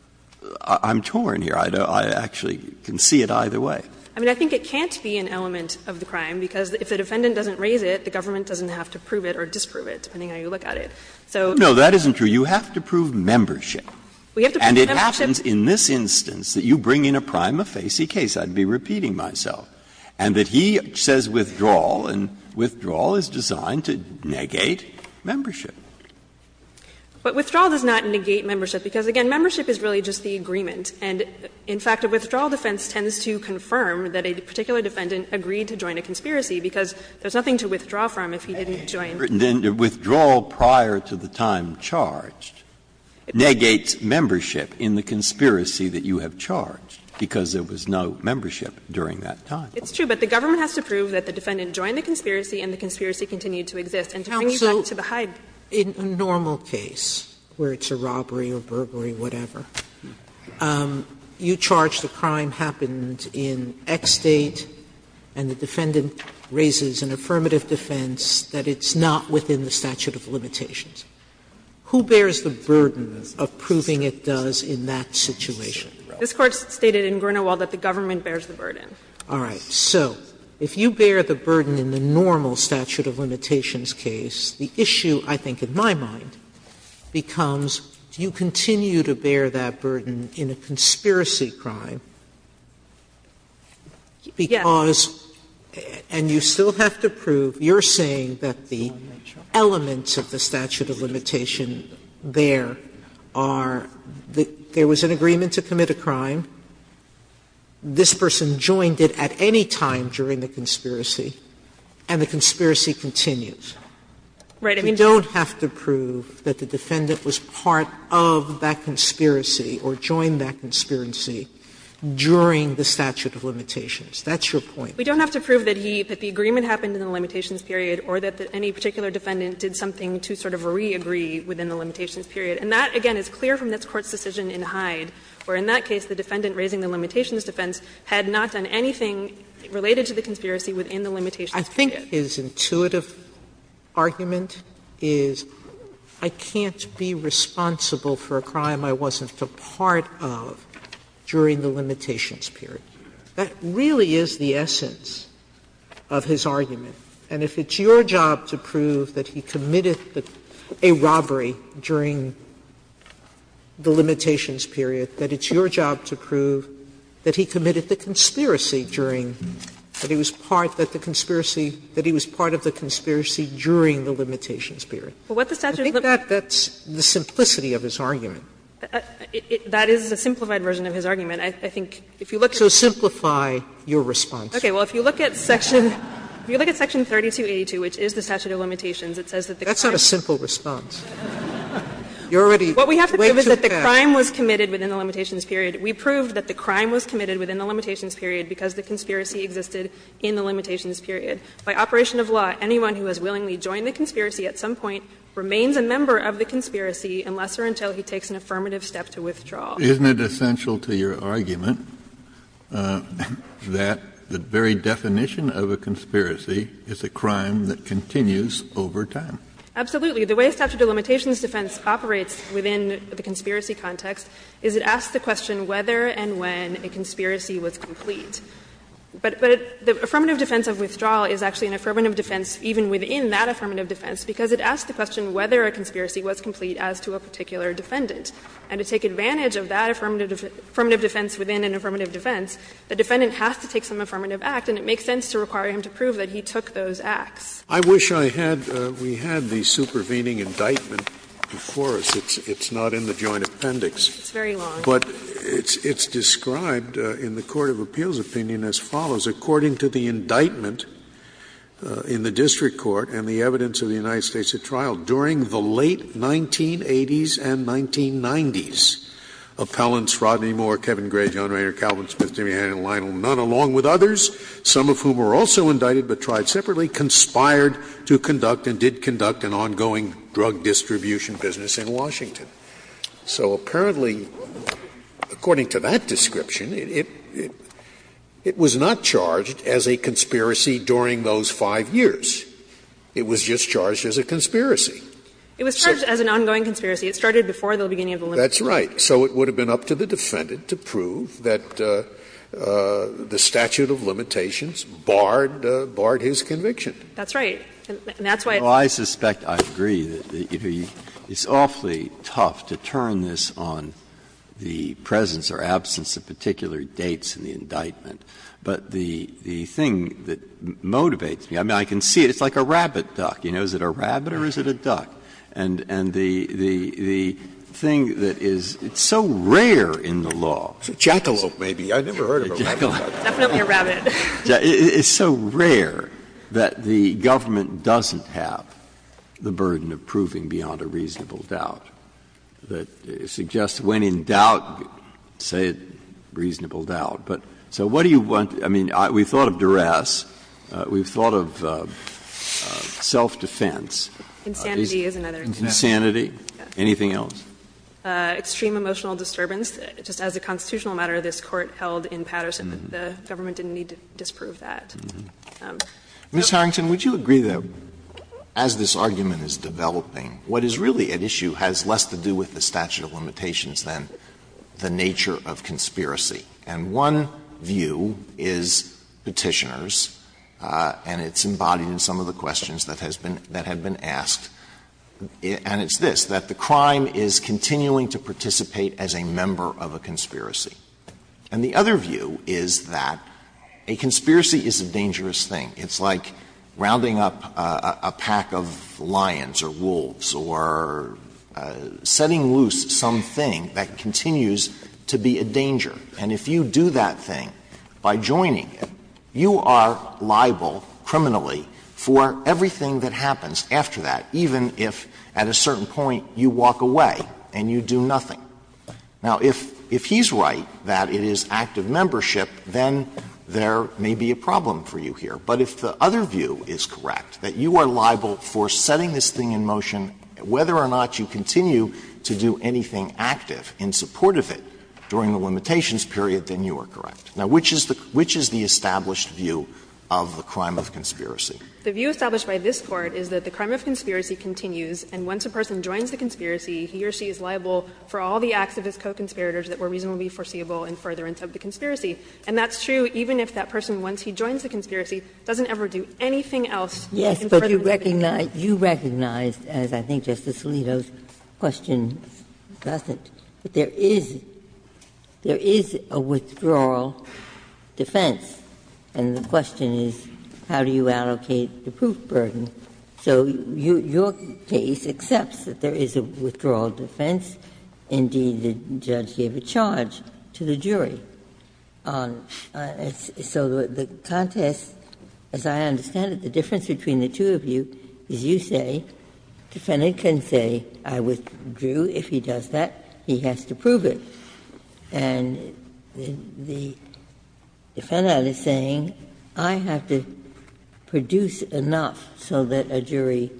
– I'm torn here. I actually can see it either way. I mean, I think it can't be an element of the crime, because if the defendant doesn't raise it, the government doesn't have to prove it or disprove it, depending So the question is, does the defendant have to prove it? No, that isn't true. You have to prove membership. And it happens in this instance that you bring in a prime offender. And you say, well, if I were the plaintiff, I'd be repeating myself, and that he says withdrawal, and withdrawal is designed to negate membership. But withdrawal does not negate membership, because, again, membership is really just the agreement. And, in fact, a withdrawal defense tends to confirm that a particular defendant agreed to join a conspiracy, because there's nothing to withdraw from if he didn't join. Then the withdrawal prior to the time charged negates membership in the conspiracy that you have charged, because there was no membership during that time. It's true, but the government has to prove that the defendant joined the conspiracy and the conspiracy continued to exist. And to bring you back to the Hyde. Sotomayor, in a normal case where it's a robbery or burglary, whatever, you charge the crime happened in X date, and the defendant raises an affirmative defense that it's not within the statute of limitations. Who bears the burden of proving it does in that situation? This Court stated in Grinnell-Weld that the government bears the burden. All right. So if you bear the burden in the normal statute of limitations case, the issue I think in my mind becomes, do you continue to bear that burden in a conspiracy crime, because, and you still have to prove, you're saying that the elements of the statute of limitations there are that there was an agreement to commit a crime, this person joined it at any time during the conspiracy, and the conspiracy continues. You don't have to prove that the defendant was part of that conspiracy or joined that conspiracy during the statute of limitations. That's your point. We don't have to prove that he, that the agreement happened in the limitations period or that any particular defendant did something to sort of re-agree within the limitations period. And that, again, is clear from this Court's decision in Hyde, where in that case the defendant raising the limitations defense had not done anything related to the conspiracy within the limitations period. Sotomayor's argument is, I can't be responsible for a crime I wasn't a part of during the limitations period. That really is the essence of his argument. And if it's your job to prove that he committed a robbery during the limitations period, that it's your job to prove that he committed the conspiracy during, that he was part of the conspiracy during the limitations period. I think that's the simplicity of his argument. That is a simplified version of his argument. I think if you look at the statute of limitations. So simplify your response. Okay. Well, if you look at section, if you look at section 3282, which is the statute of limitations, it says that the crime. That's not a simple response. You're already way too fast. What we have to prove is that the crime was committed within the limitations period. We proved that the crime was committed within the limitations period because the conspiracy existed in the limitations period. By operation of law, anyone who has willingly joined the conspiracy at some point remains a member of the conspiracy unless or until he takes an affirmative step to withdraw. Kennedy, isn't it essential to your argument that the very definition of a conspiracy is a crime that continues over time? Absolutely. The way statute of limitations defense operates within the conspiracy context is it asks the question whether and when a conspiracy was complete. But the affirmative defense of withdrawal is actually an affirmative defense even within that affirmative defense because it asks the question whether a conspiracy was complete as to a particular defendant. And to take advantage of that affirmative defense within an affirmative defense, the defendant has to take some affirmative act, and it makes sense to require him to prove that he took those acts. I wish I had the supervening indictment before us. It's not in the Joint Appendix. It's very long. But it's described in the court of appeals opinion as follows. According to the indictment in the district court and the evidence of the United States, in the 1980s and 1990s, appellants Rodney Moore, Kevin Gray, John Rayner, Calvin Smith, Jimmy Hannan, and Lionel Nunn, along with others, some of whom were also indicted but tried separately, conspired to conduct and did conduct an ongoing drug distribution business in Washington. So apparently, according to that description, it was not charged as a conspiracy during those 5 years. It was just charged as a conspiracy. It was charged as an ongoing conspiracy. It started before the beginning of the limitations. That's right. So it would have been up to the defendant to prove that the statute of limitations barred his conviction. And that's why it's not in the indictment. Well, I suspect, I agree, that it's awfully tough to turn this on the presence or absence of particular dates in the indictment. But the thing that motivates me, I mean, I can see it. It's like a rabbit duck. You know, is it a rabbit or is it a duck? And the thing that is so rare in the law. Jackalope, maybe. I've never heard of a rabbit duck. Definitely a rabbit. It's so rare that the government doesn't have the burden of proving beyond a reasonable doubt that suggests when in doubt, say it, reasonable doubt. But so what do you want to – I mean, we've thought of duress. We've thought of self-defense. Insanity is another. Insanity. Anything else? Extreme emotional disturbance. Just as a constitutional matter, this Court held in Patterson that the government didn't need to disprove that. Ms. Harrington, would you agree that as this argument is developing, what is really at issue has less to do with the statute of limitations than the nature of conspiracy? And one view is Petitioners, and it's embodied in some of the questions that has been – that have been asked, and it's this, that the crime is continuing to participate as a member of a conspiracy. And the other view is that a conspiracy is a dangerous thing. It's like rounding up a pack of lions or wolves or setting loose some thing that you are liable for, and if you do that thing by joining it, you are liable criminally for everything that happens after that, even if at a certain point you walk away and you do nothing. Now, if he's right that it is active membership, then there may be a problem for you here. But if the other view is correct, that you are liable for setting this thing in motion, whether or not you continue to do anything active in support of it during the limitations period, then you are correct. Now, which is the established view of the crime of conspiracy? The view established by this Court is that the crime of conspiracy continues, and once a person joins the conspiracy, he or she is liable for all the acts of his co-conspirators that were reasonably foreseeable in furtherance of the conspiracy. And that's true even if that person, once he joins the conspiracy, doesn't ever do anything else in furtherance of the conspiracy. Ginsburg. Ginsburg. You recognize, as I think Justice Alito's question doesn't, that there is — there is a withdrawal defense, and the question is how do you allocate the proof burden? So your case accepts that there is a withdrawal defense. Indeed, the judge gave a charge to the jury. So the contest, as I understand it, the difference between the two of you is you say, defendant can say I withdrew. If he does that, he has to prove it. And the defendant is saying I have to produce enough so that a jury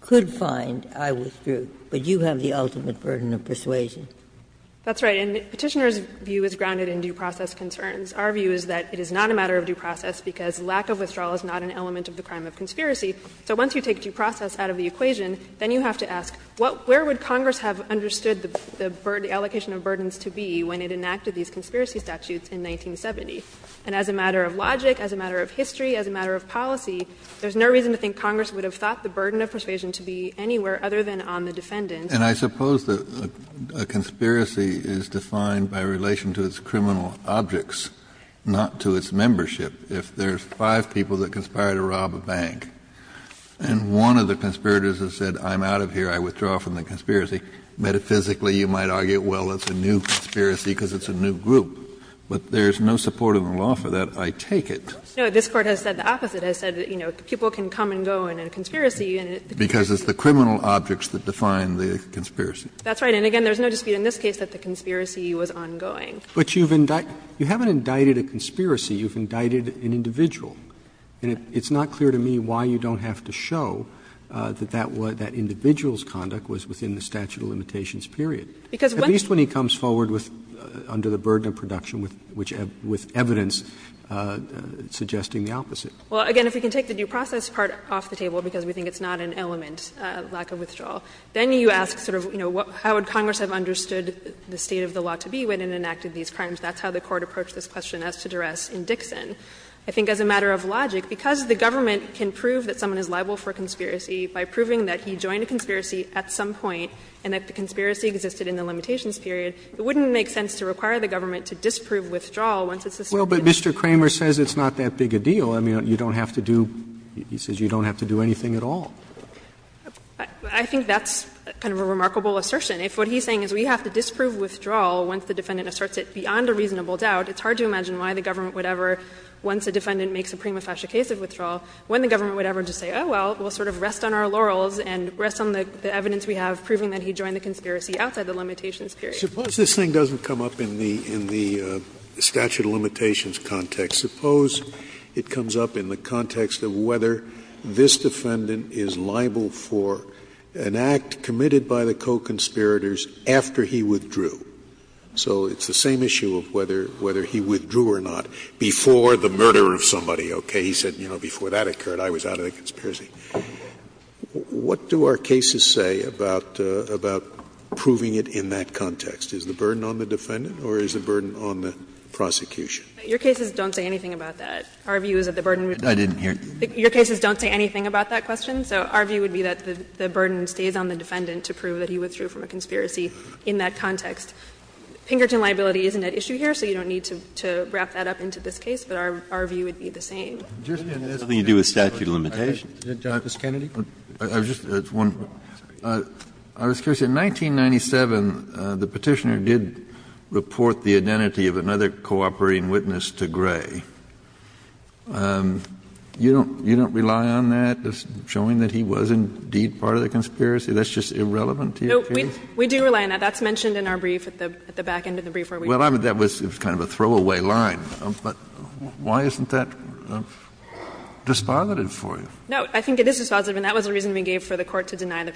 could find I withdrew, but you have the ultimate burden of persuasion. That's right. And Petitioner's view is grounded in due process concerns. Our view is that it is not a matter of due process because lack of withdrawal is not an element of the crime of conspiracy. So once you take due process out of the equation, then you have to ask where would Congress have understood the allocation of burdens to be when it enacted these conspiracy statutes in 1970? And as a matter of logic, as a matter of history, as a matter of policy, there's no reason to think Congress would have thought the burden of persuasion to be anywhere other than on the defendant. Kennedy, and I suppose that a conspiracy is defined by relation to its criminal objects, not to its membership. If there's five people that conspire to rob a bank and one of the conspirators has said I'm out of here, I withdraw from the conspiracy, metaphysically you might argue, well, it's a new conspiracy because it's a new group. But there's no support in the law for that, I take it. No, this Court has said the opposite. It has said, you know, people can come and go in a conspiracy and it's the case. It's the criminal objects that define the conspiracy. That's right. And again, there's no dispute in this case that the conspiracy was ongoing. But you've indicted, you haven't indicted a conspiracy, you've indicted an individual. And it's not clear to me why you don't have to show that that was, that individual's conduct was within the statute of limitations, period, at least when he comes forward with, under the burden of production, with evidence suggesting the opposite. Well, again, if we can take the due process part off the table, because we think it's not an element, lack of withdrawal, then you ask sort of, you know, how would Congress have understood the state of the law to be when it enacted these crimes? That's how the Court approached this question as to duress in Dixon. I think as a matter of logic, because the government can prove that someone is liable for a conspiracy by proving that he joined a conspiracy at some point and that the conspiracy existed in the limitations period, it wouldn't make sense to require the government to disprove withdrawal once it's a suspicion. Well, but Mr. Kramer says it's not that big a deal. I mean, you don't have to do, he says you don't have to do anything at all. I think that's kind of a remarkable assertion. If what he's saying is we have to disprove withdrawal once the defendant asserts it beyond a reasonable doubt, it's hard to imagine why the government would ever, once a defendant makes a prima facie case of withdrawal, when the government would ever just say, oh, well, we'll sort of rest on our laurels and rest on the evidence we have proving that he joined the conspiracy outside the limitations period. Scalia. Suppose this thing doesn't come up in the statute of limitations context. Suppose it comes up in the context of whether this defendant is liable for an act committed by the co-conspirators after he withdrew. So it's the same issue of whether he withdrew or not before the murder of somebody. Okay? He said, you know, before that occurred, I was out of the conspiracy. What do our cases say about proving it in that context? Your cases don't say anything about that. Our view is that the burden would be. I didn't hear. Your cases don't say anything about that question. So our view would be that the burden stays on the defendant to prove that he withdrew from a conspiracy in that context. Pinkerton liability isn't at issue here, so you don't need to wrap that up into this case, but our view would be the same. That has nothing to do with statute of limitations. Justice Kennedy. I was just wondering. I was curious. In 1997, the Petitioner did report the identity of another cooperating witness to Gray. You don't rely on that as showing that he was indeed part of the conspiracy? That's just irrelevant to your case? No. We do rely on that. That's mentioned in our brief at the back end of the brief where we were. Well, I mean, that was kind of a throwaway line. But why isn't that dispositive for you? No. I think it is dispositive, and that was the reason we gave for the Court to deny the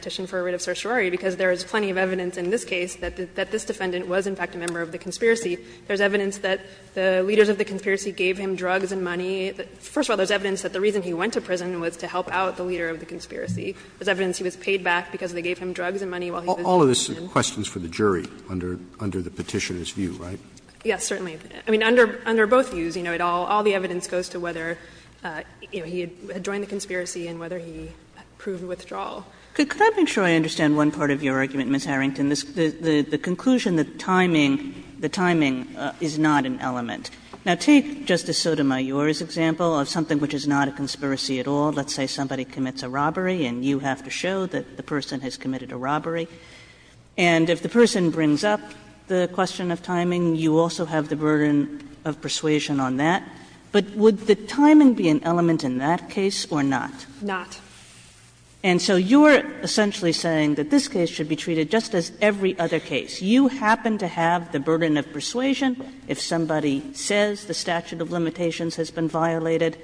There's plenty of evidence in this case that this defendant was, in fact, a member of the conspiracy. There's evidence that the leaders of the conspiracy gave him drugs and money. First of all, there's evidence that the reason he went to prison was to help out the leader of the conspiracy. There's evidence he was paid back because they gave him drugs and money while he was in prison. All of this is questions for the jury under the Petitioner's view, right? Yes, certainly. I mean, under both views, you know, all the evidence goes to whether he had joined the conspiracy and whether he proved withdrawal. Could I make sure I understand one part of your argument, Ms. Harrington? The conclusion that timing, the timing is not an element. Now, take Justice Sotomayor's example of something which is not a conspiracy at all. Let's say somebody commits a robbery and you have to show that the person has committed a robbery. And if the person brings up the question of timing, you also have the burden of persuasion on that. But would the timing be an element in that case or not? Not. And so you are essentially saying that this case should be treated just as every other case. You happen to have the burden of persuasion if somebody says the statute of limitations has been violated.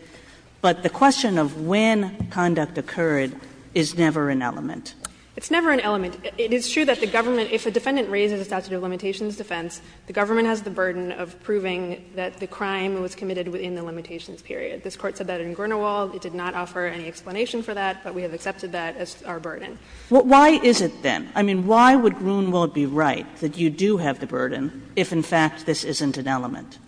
But the question of when conduct occurred is never an element. It's never an element. It is true that the government, if a defendant raises a statute of limitations defense, the government has the burden of proving that the crime was committed within the limitations period. This Court said that in Grunewald. It did not offer any explanation for that, but we have accepted that as our burden. Why is it, then? I mean, why would Grunewald be right that you do have the burden if, in fact, this isn't an element?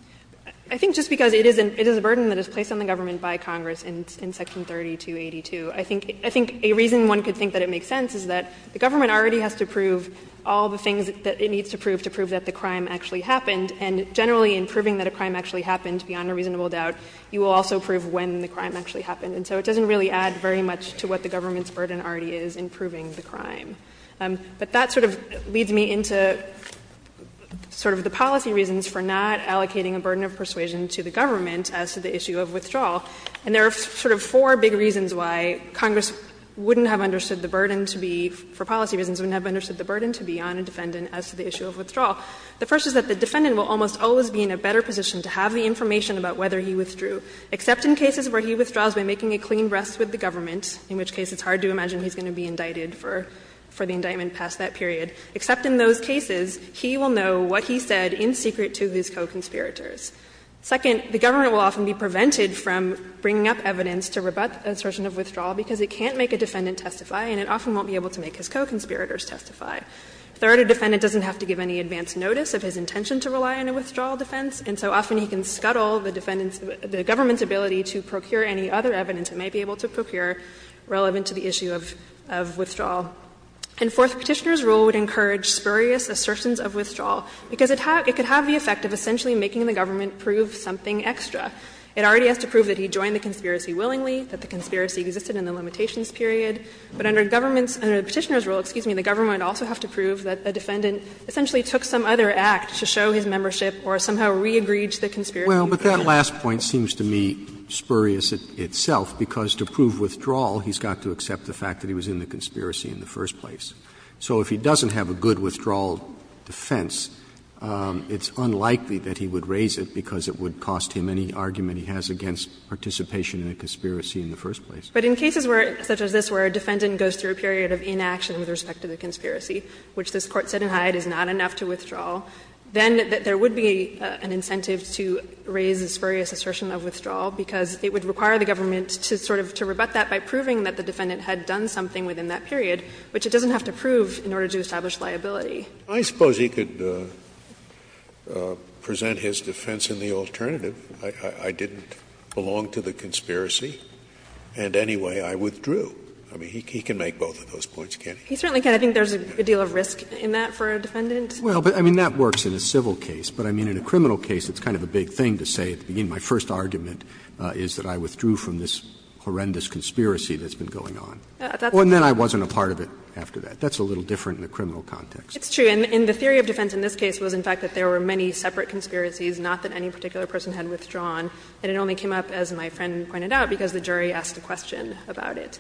I think just because it is a burden that is placed on the government by Congress in section 30282. I think a reason one could think that it makes sense is that the government already has to prove all the things that it needs to prove to prove that the crime actually happened. And generally in proving that a crime actually happened, beyond a reasonable doubt, you will also prove when the crime actually happened. And so it doesn't really add very much to what the government's burden already is in proving the crime. But that sort of leads me into sort of the policy reasons for not allocating a burden of persuasion to the government as to the issue of withdrawal. And there are sort of four big reasons why Congress wouldn't have understood the burden to be, for policy reasons, wouldn't have understood the burden to be on a defendant as to the issue of withdrawal. The first is that the defendant will almost always be in a better position to have the information about whether he withdrew, except in cases where he withdraws by making a clean rest with the government, in which case it's hard to imagine he's going to be indicted for the indictment past that period. Except in those cases, he will know what he said in secret to his co-conspirators. Second, the government will often be prevented from bringing up evidence to rebut the assertion of withdrawal because it can't make a defendant testify and it often won't be able to make his co-conspirators testify. Third, a defendant doesn't have to give any advance notice of his intention to rely on a withdrawal defense. And so often he can scuttle the defendant's, the government's ability to procure any other evidence it may be able to procure relevant to the issue of withdrawal. And fourth, Petitioner's rule would encourage spurious assertions of withdrawal because it could have the effect of essentially making the government prove something extra. It already has to prove that he joined the conspiracy willingly, that the conspiracy existed in the limitations period. But under government's, under Petitioner's rule, excuse me, the government would also have to prove that the defendant essentially took some other act to show his membership or somehow re-agreed to the conspiracy. Roberts Well, but that last point seems to me spurious itself, because to prove withdrawal he's got to accept the fact that he was in the conspiracy in the first place. So if he doesn't have a good withdrawal defense, it's unlikely that he would raise it because it would cost him any argument he has against participation in a conspiracy in the first place. But in cases where, such as this, where a defendant goes through a period of inaction with respect to the conspiracy, which this Court said in Hyde is not enough to withdraw, then there would be an incentive to raise this spurious assertion of withdrawal, because it would require the government to sort of, to rebut that by proving that the defendant had done something within that period, which it doesn't have to prove in order to establish liability. Scalia I suppose he could present his defense in the alternative. I didn't belong to the conspiracy, and anyway I withdrew. I mean, he can make both of those points, can't he? Harrington He certainly can. I think there's a deal of risk in that for a defendant. Roberts Well, I mean, that works in a civil case, but, I mean, in a criminal case, it's kind of a big thing to say at the beginning, my first argument is that I withdrew from this horrendous conspiracy that's been going on. And then I wasn't a part of it after that. That's a little different in the criminal context. Harrington It's true, and the theory of defense in this case was, in fact, that there were many separate conspiracies, not that any particular person had withdrawn, and it only came up, as my friend pointed out, because the jury asked a question about it.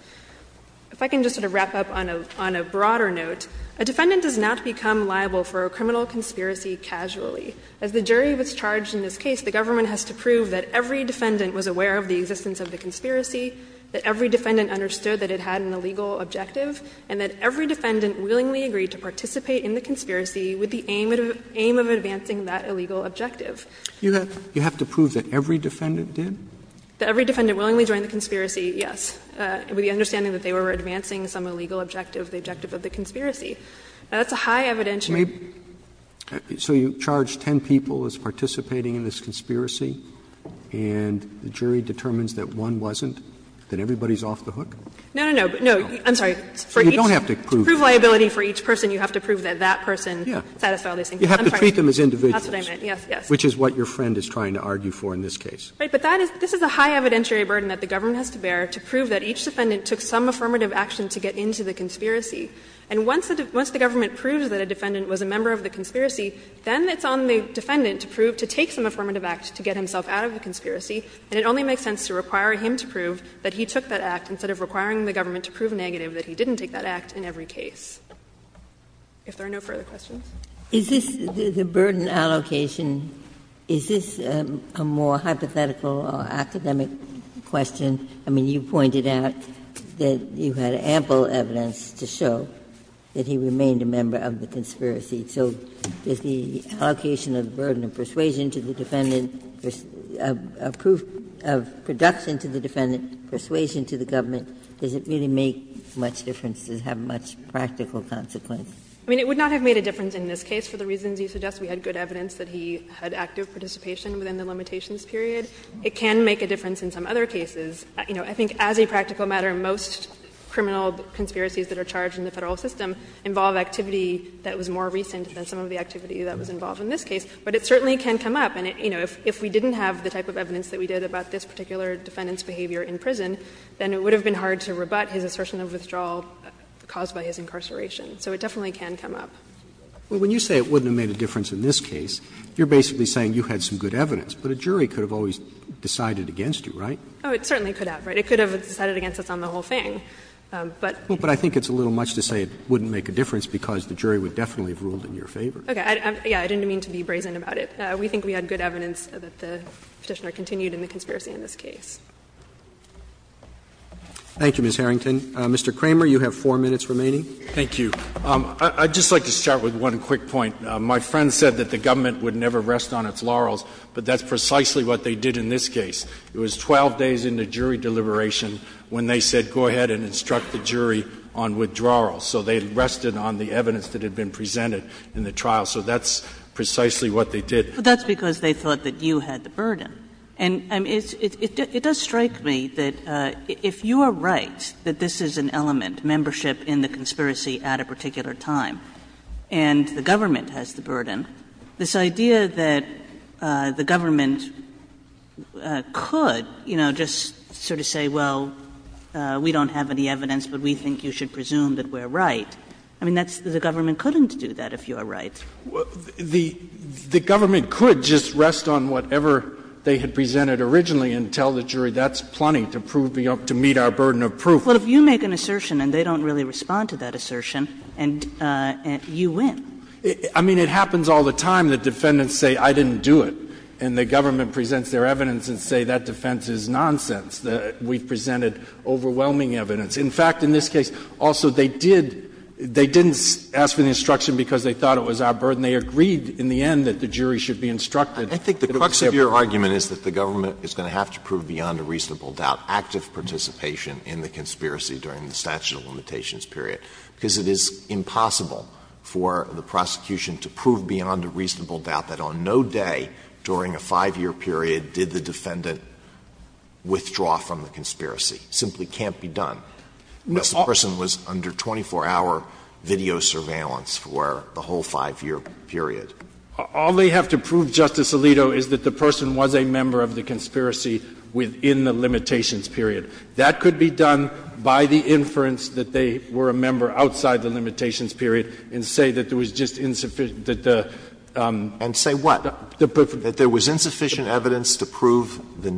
If I can just sort of wrap up on a broader note, a defendant does not become liable for a criminal conspiracy casually. As the jury was charged in this case, the government has to prove that every defendant was aware of the existence of the conspiracy, that every defendant understood that it had an illegal objective, and that every defendant willingly agreed to participate in the conspiracy with the aim of advancing that illegal objective. Roberts You have to prove that every defendant did? Harrington That every defendant willingly joined the conspiracy, yes, with the understanding that they were advancing some illegal objective, the objective of the conspiracy. Now, that's a high evidentiary. Roberts So you charge 10 people as participating in this conspiracy, and the jury determines that one wasn't, then everybody's off the hook? Harrington No, no, no. No, I'm sorry. For each person, you have to prove that that person satisfied all these things. I'm sorry. That's what I meant, yes, yes. Roberts Which is what your friend is trying to argue for in this case. Harrington Right, but this is a high evidentiary burden that the government has to bear to prove that each defendant took some affirmative action to get into the conspiracy. And once the government proves that a defendant was a member of the conspiracy, then it's on the defendant to prove, to take some affirmative act to get himself out of the conspiracy, and it only makes sense to require him to prove that he took that act instead of requiring the government to prove negative that he didn't take that act in every case. If there are no further questions. Ginsburg Is this the burden allocation, is this a more hypothetical or academic question? I mean, you pointed out that you had ample evidence to show that he remained a member of the conspiracy. So does the allocation of the burden of persuasion to the defendant, of proof of production to the defendant, persuasion to the government, does it really make much difference, does it have much practical consequence? Harrington I mean, it would not have made a difference in this case for the reasons you suggest. We had good evidence that he had active participation within the limitations period. It can make a difference in some other cases. You know, I think as a practical matter, most criminal conspiracies that are charged in the Federal system involve activity that was more recent than some of the activity that was involved in this case, but it certainly can come up. And, you know, if we didn't have the type of evidence that we did about this particular defendant's behavior in prison, then it would have been hard to rebut his assertion of withdrawal caused by his incarceration. So it definitely can come up. Roberts Well, when you say it wouldn't have made a difference in this case, you're basically saying you had some good evidence. But a jury could have always decided against you, right? Harrington Oh, it certainly could have, right? It could have decided against us on the whole thing. But the jury would definitely have ruled in your favor. Harrington Okay. Yes, I didn't mean to be brazen about it. We think we had good evidence that the Petitioner continued in the conspiracy in this case. Roberts Thank you, Ms. Harrington. Mr. Kramer, you have 4 minutes remaining. Kramer Thank you. I would just like to start with one quick point. My friend said that the government would never rest on its laurels, but that's precisely what they did in this case. It was 12 days into jury deliberation when they said go ahead and instruct the jury on withdrawal. So they rested on the evidence that had been presented in the trial. So that's precisely what they did. Kagan But that's because they thought that you had the burden. And it does strike me that if you are right that this is an element, membership in the conspiracy at a particular time, and the government has the burden. This idea that the government could, you know, just sort of say, well, we don't have any evidence, but we think you should presume that we're right, I mean, that's the government couldn't do that if you are right. Kramer The government could just rest on whatever they had presented originally and tell the jury that's plenty to prove the up to meet our burden of proof. Well, if you make an assertion and they don't really respond to that assertion, you win. Kramer I mean, it happens all the time that defendants say I didn't do it, and the government presents their evidence and say that defense is nonsense, that we've presented overwhelming evidence. In fact, in this case, also, they did they didn't ask for the instruction because they thought it was our burden. They agreed in the end that the jury should be instructed. Alito I think the crux of your argument is that the government is going to have to prove beyond a reasonable doubt active participation in the conspiracy during the statute of limitations period, because it is impossible for the prosecution to prove beyond a reasonable doubt that on no day during a 5-year period did the defendant withdraw from the conspiracy. It simply can't be done. The person was under 24-hour video surveillance for the whole 5-year period. Kramer All they have to prove, Justice Alito, is that the person was a member of the conspiracy within the limitations period. That could be done by the inference that they were a member outside the limitations period and say that there was just insufficient that the the Alito And say what? That there was insufficient evidence to prove the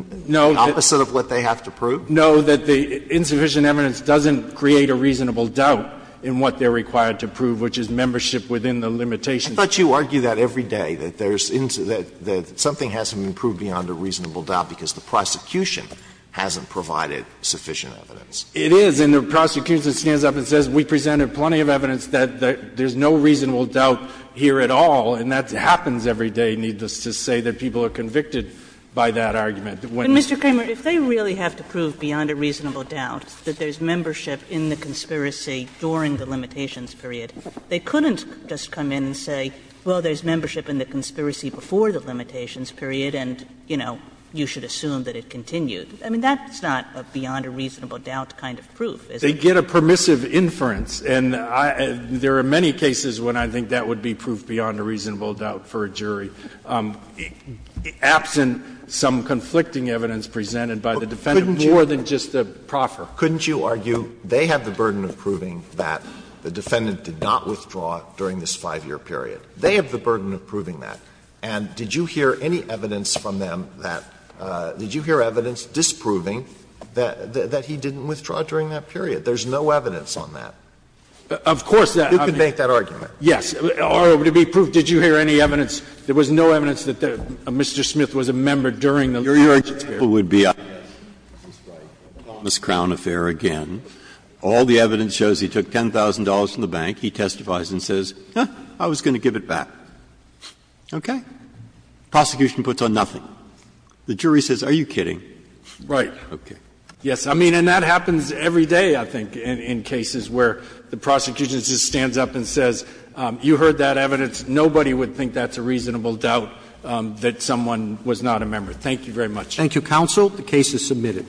opposite of what they have to prove? Kramer No, that the insufficient evidence doesn't create a reasonable doubt in what they are required to prove, which is membership within the limitations period. Alito I thought you argue that every day, that there's that something hasn't been proved beyond a reasonable doubt, because the prosecution hasn't provided sufficient evidence. Kramer It is, and the prosecution stands up and says we presented plenty of evidence that there's no reasonable doubt here at all, and that happens every day, needless to say, that people are convicted by that argument. Kagan But, Mr. Kramer, if they really have to prove beyond a reasonable doubt that there's membership in the conspiracy during the limitations period, they couldn't just come in and say, well, there's membership in the conspiracy before the limitations period, and, you know, you should assume that it continued. I mean, that's not a beyond a reasonable doubt kind of proof, is it? Kramer They get a permissive inference, and I — there are many cases when I think that would be proof beyond a reasonable doubt for a jury, absent some conflicting evidence presented by the defendant, more than just the proffer. Alito Couldn't you argue they have the burden of proving that the defendant did not withdraw during this 5-year period? They have the burden of proving that. And did you hear any evidence from them that — did you hear evidence disproving that he didn't withdraw during that period? There's no evidence on that. Kramer Of course that — Alito You can make that argument. Kramer Yes. Or to be proved, did you hear any evidence? There was no evidence that Mr. Smith was a member during the limitations period. Breyer Your example would be the Thomas Crowne affair again. All the evidence shows he took $10,000 from the bank. He testifies and says, huh, I was going to give it back. Okay? Prosecution puts on nothing. The jury says, are you kidding? Kramer Right. Breyer Okay. Kramer Yes. I mean, and that happens every day, I think, in cases where the prosecution just stands up and says, you heard that evidence. Nobody would think that's a reasonable doubt that someone was not a member. Thank you very much. Roberts Thank you, counsel. The case is submitted.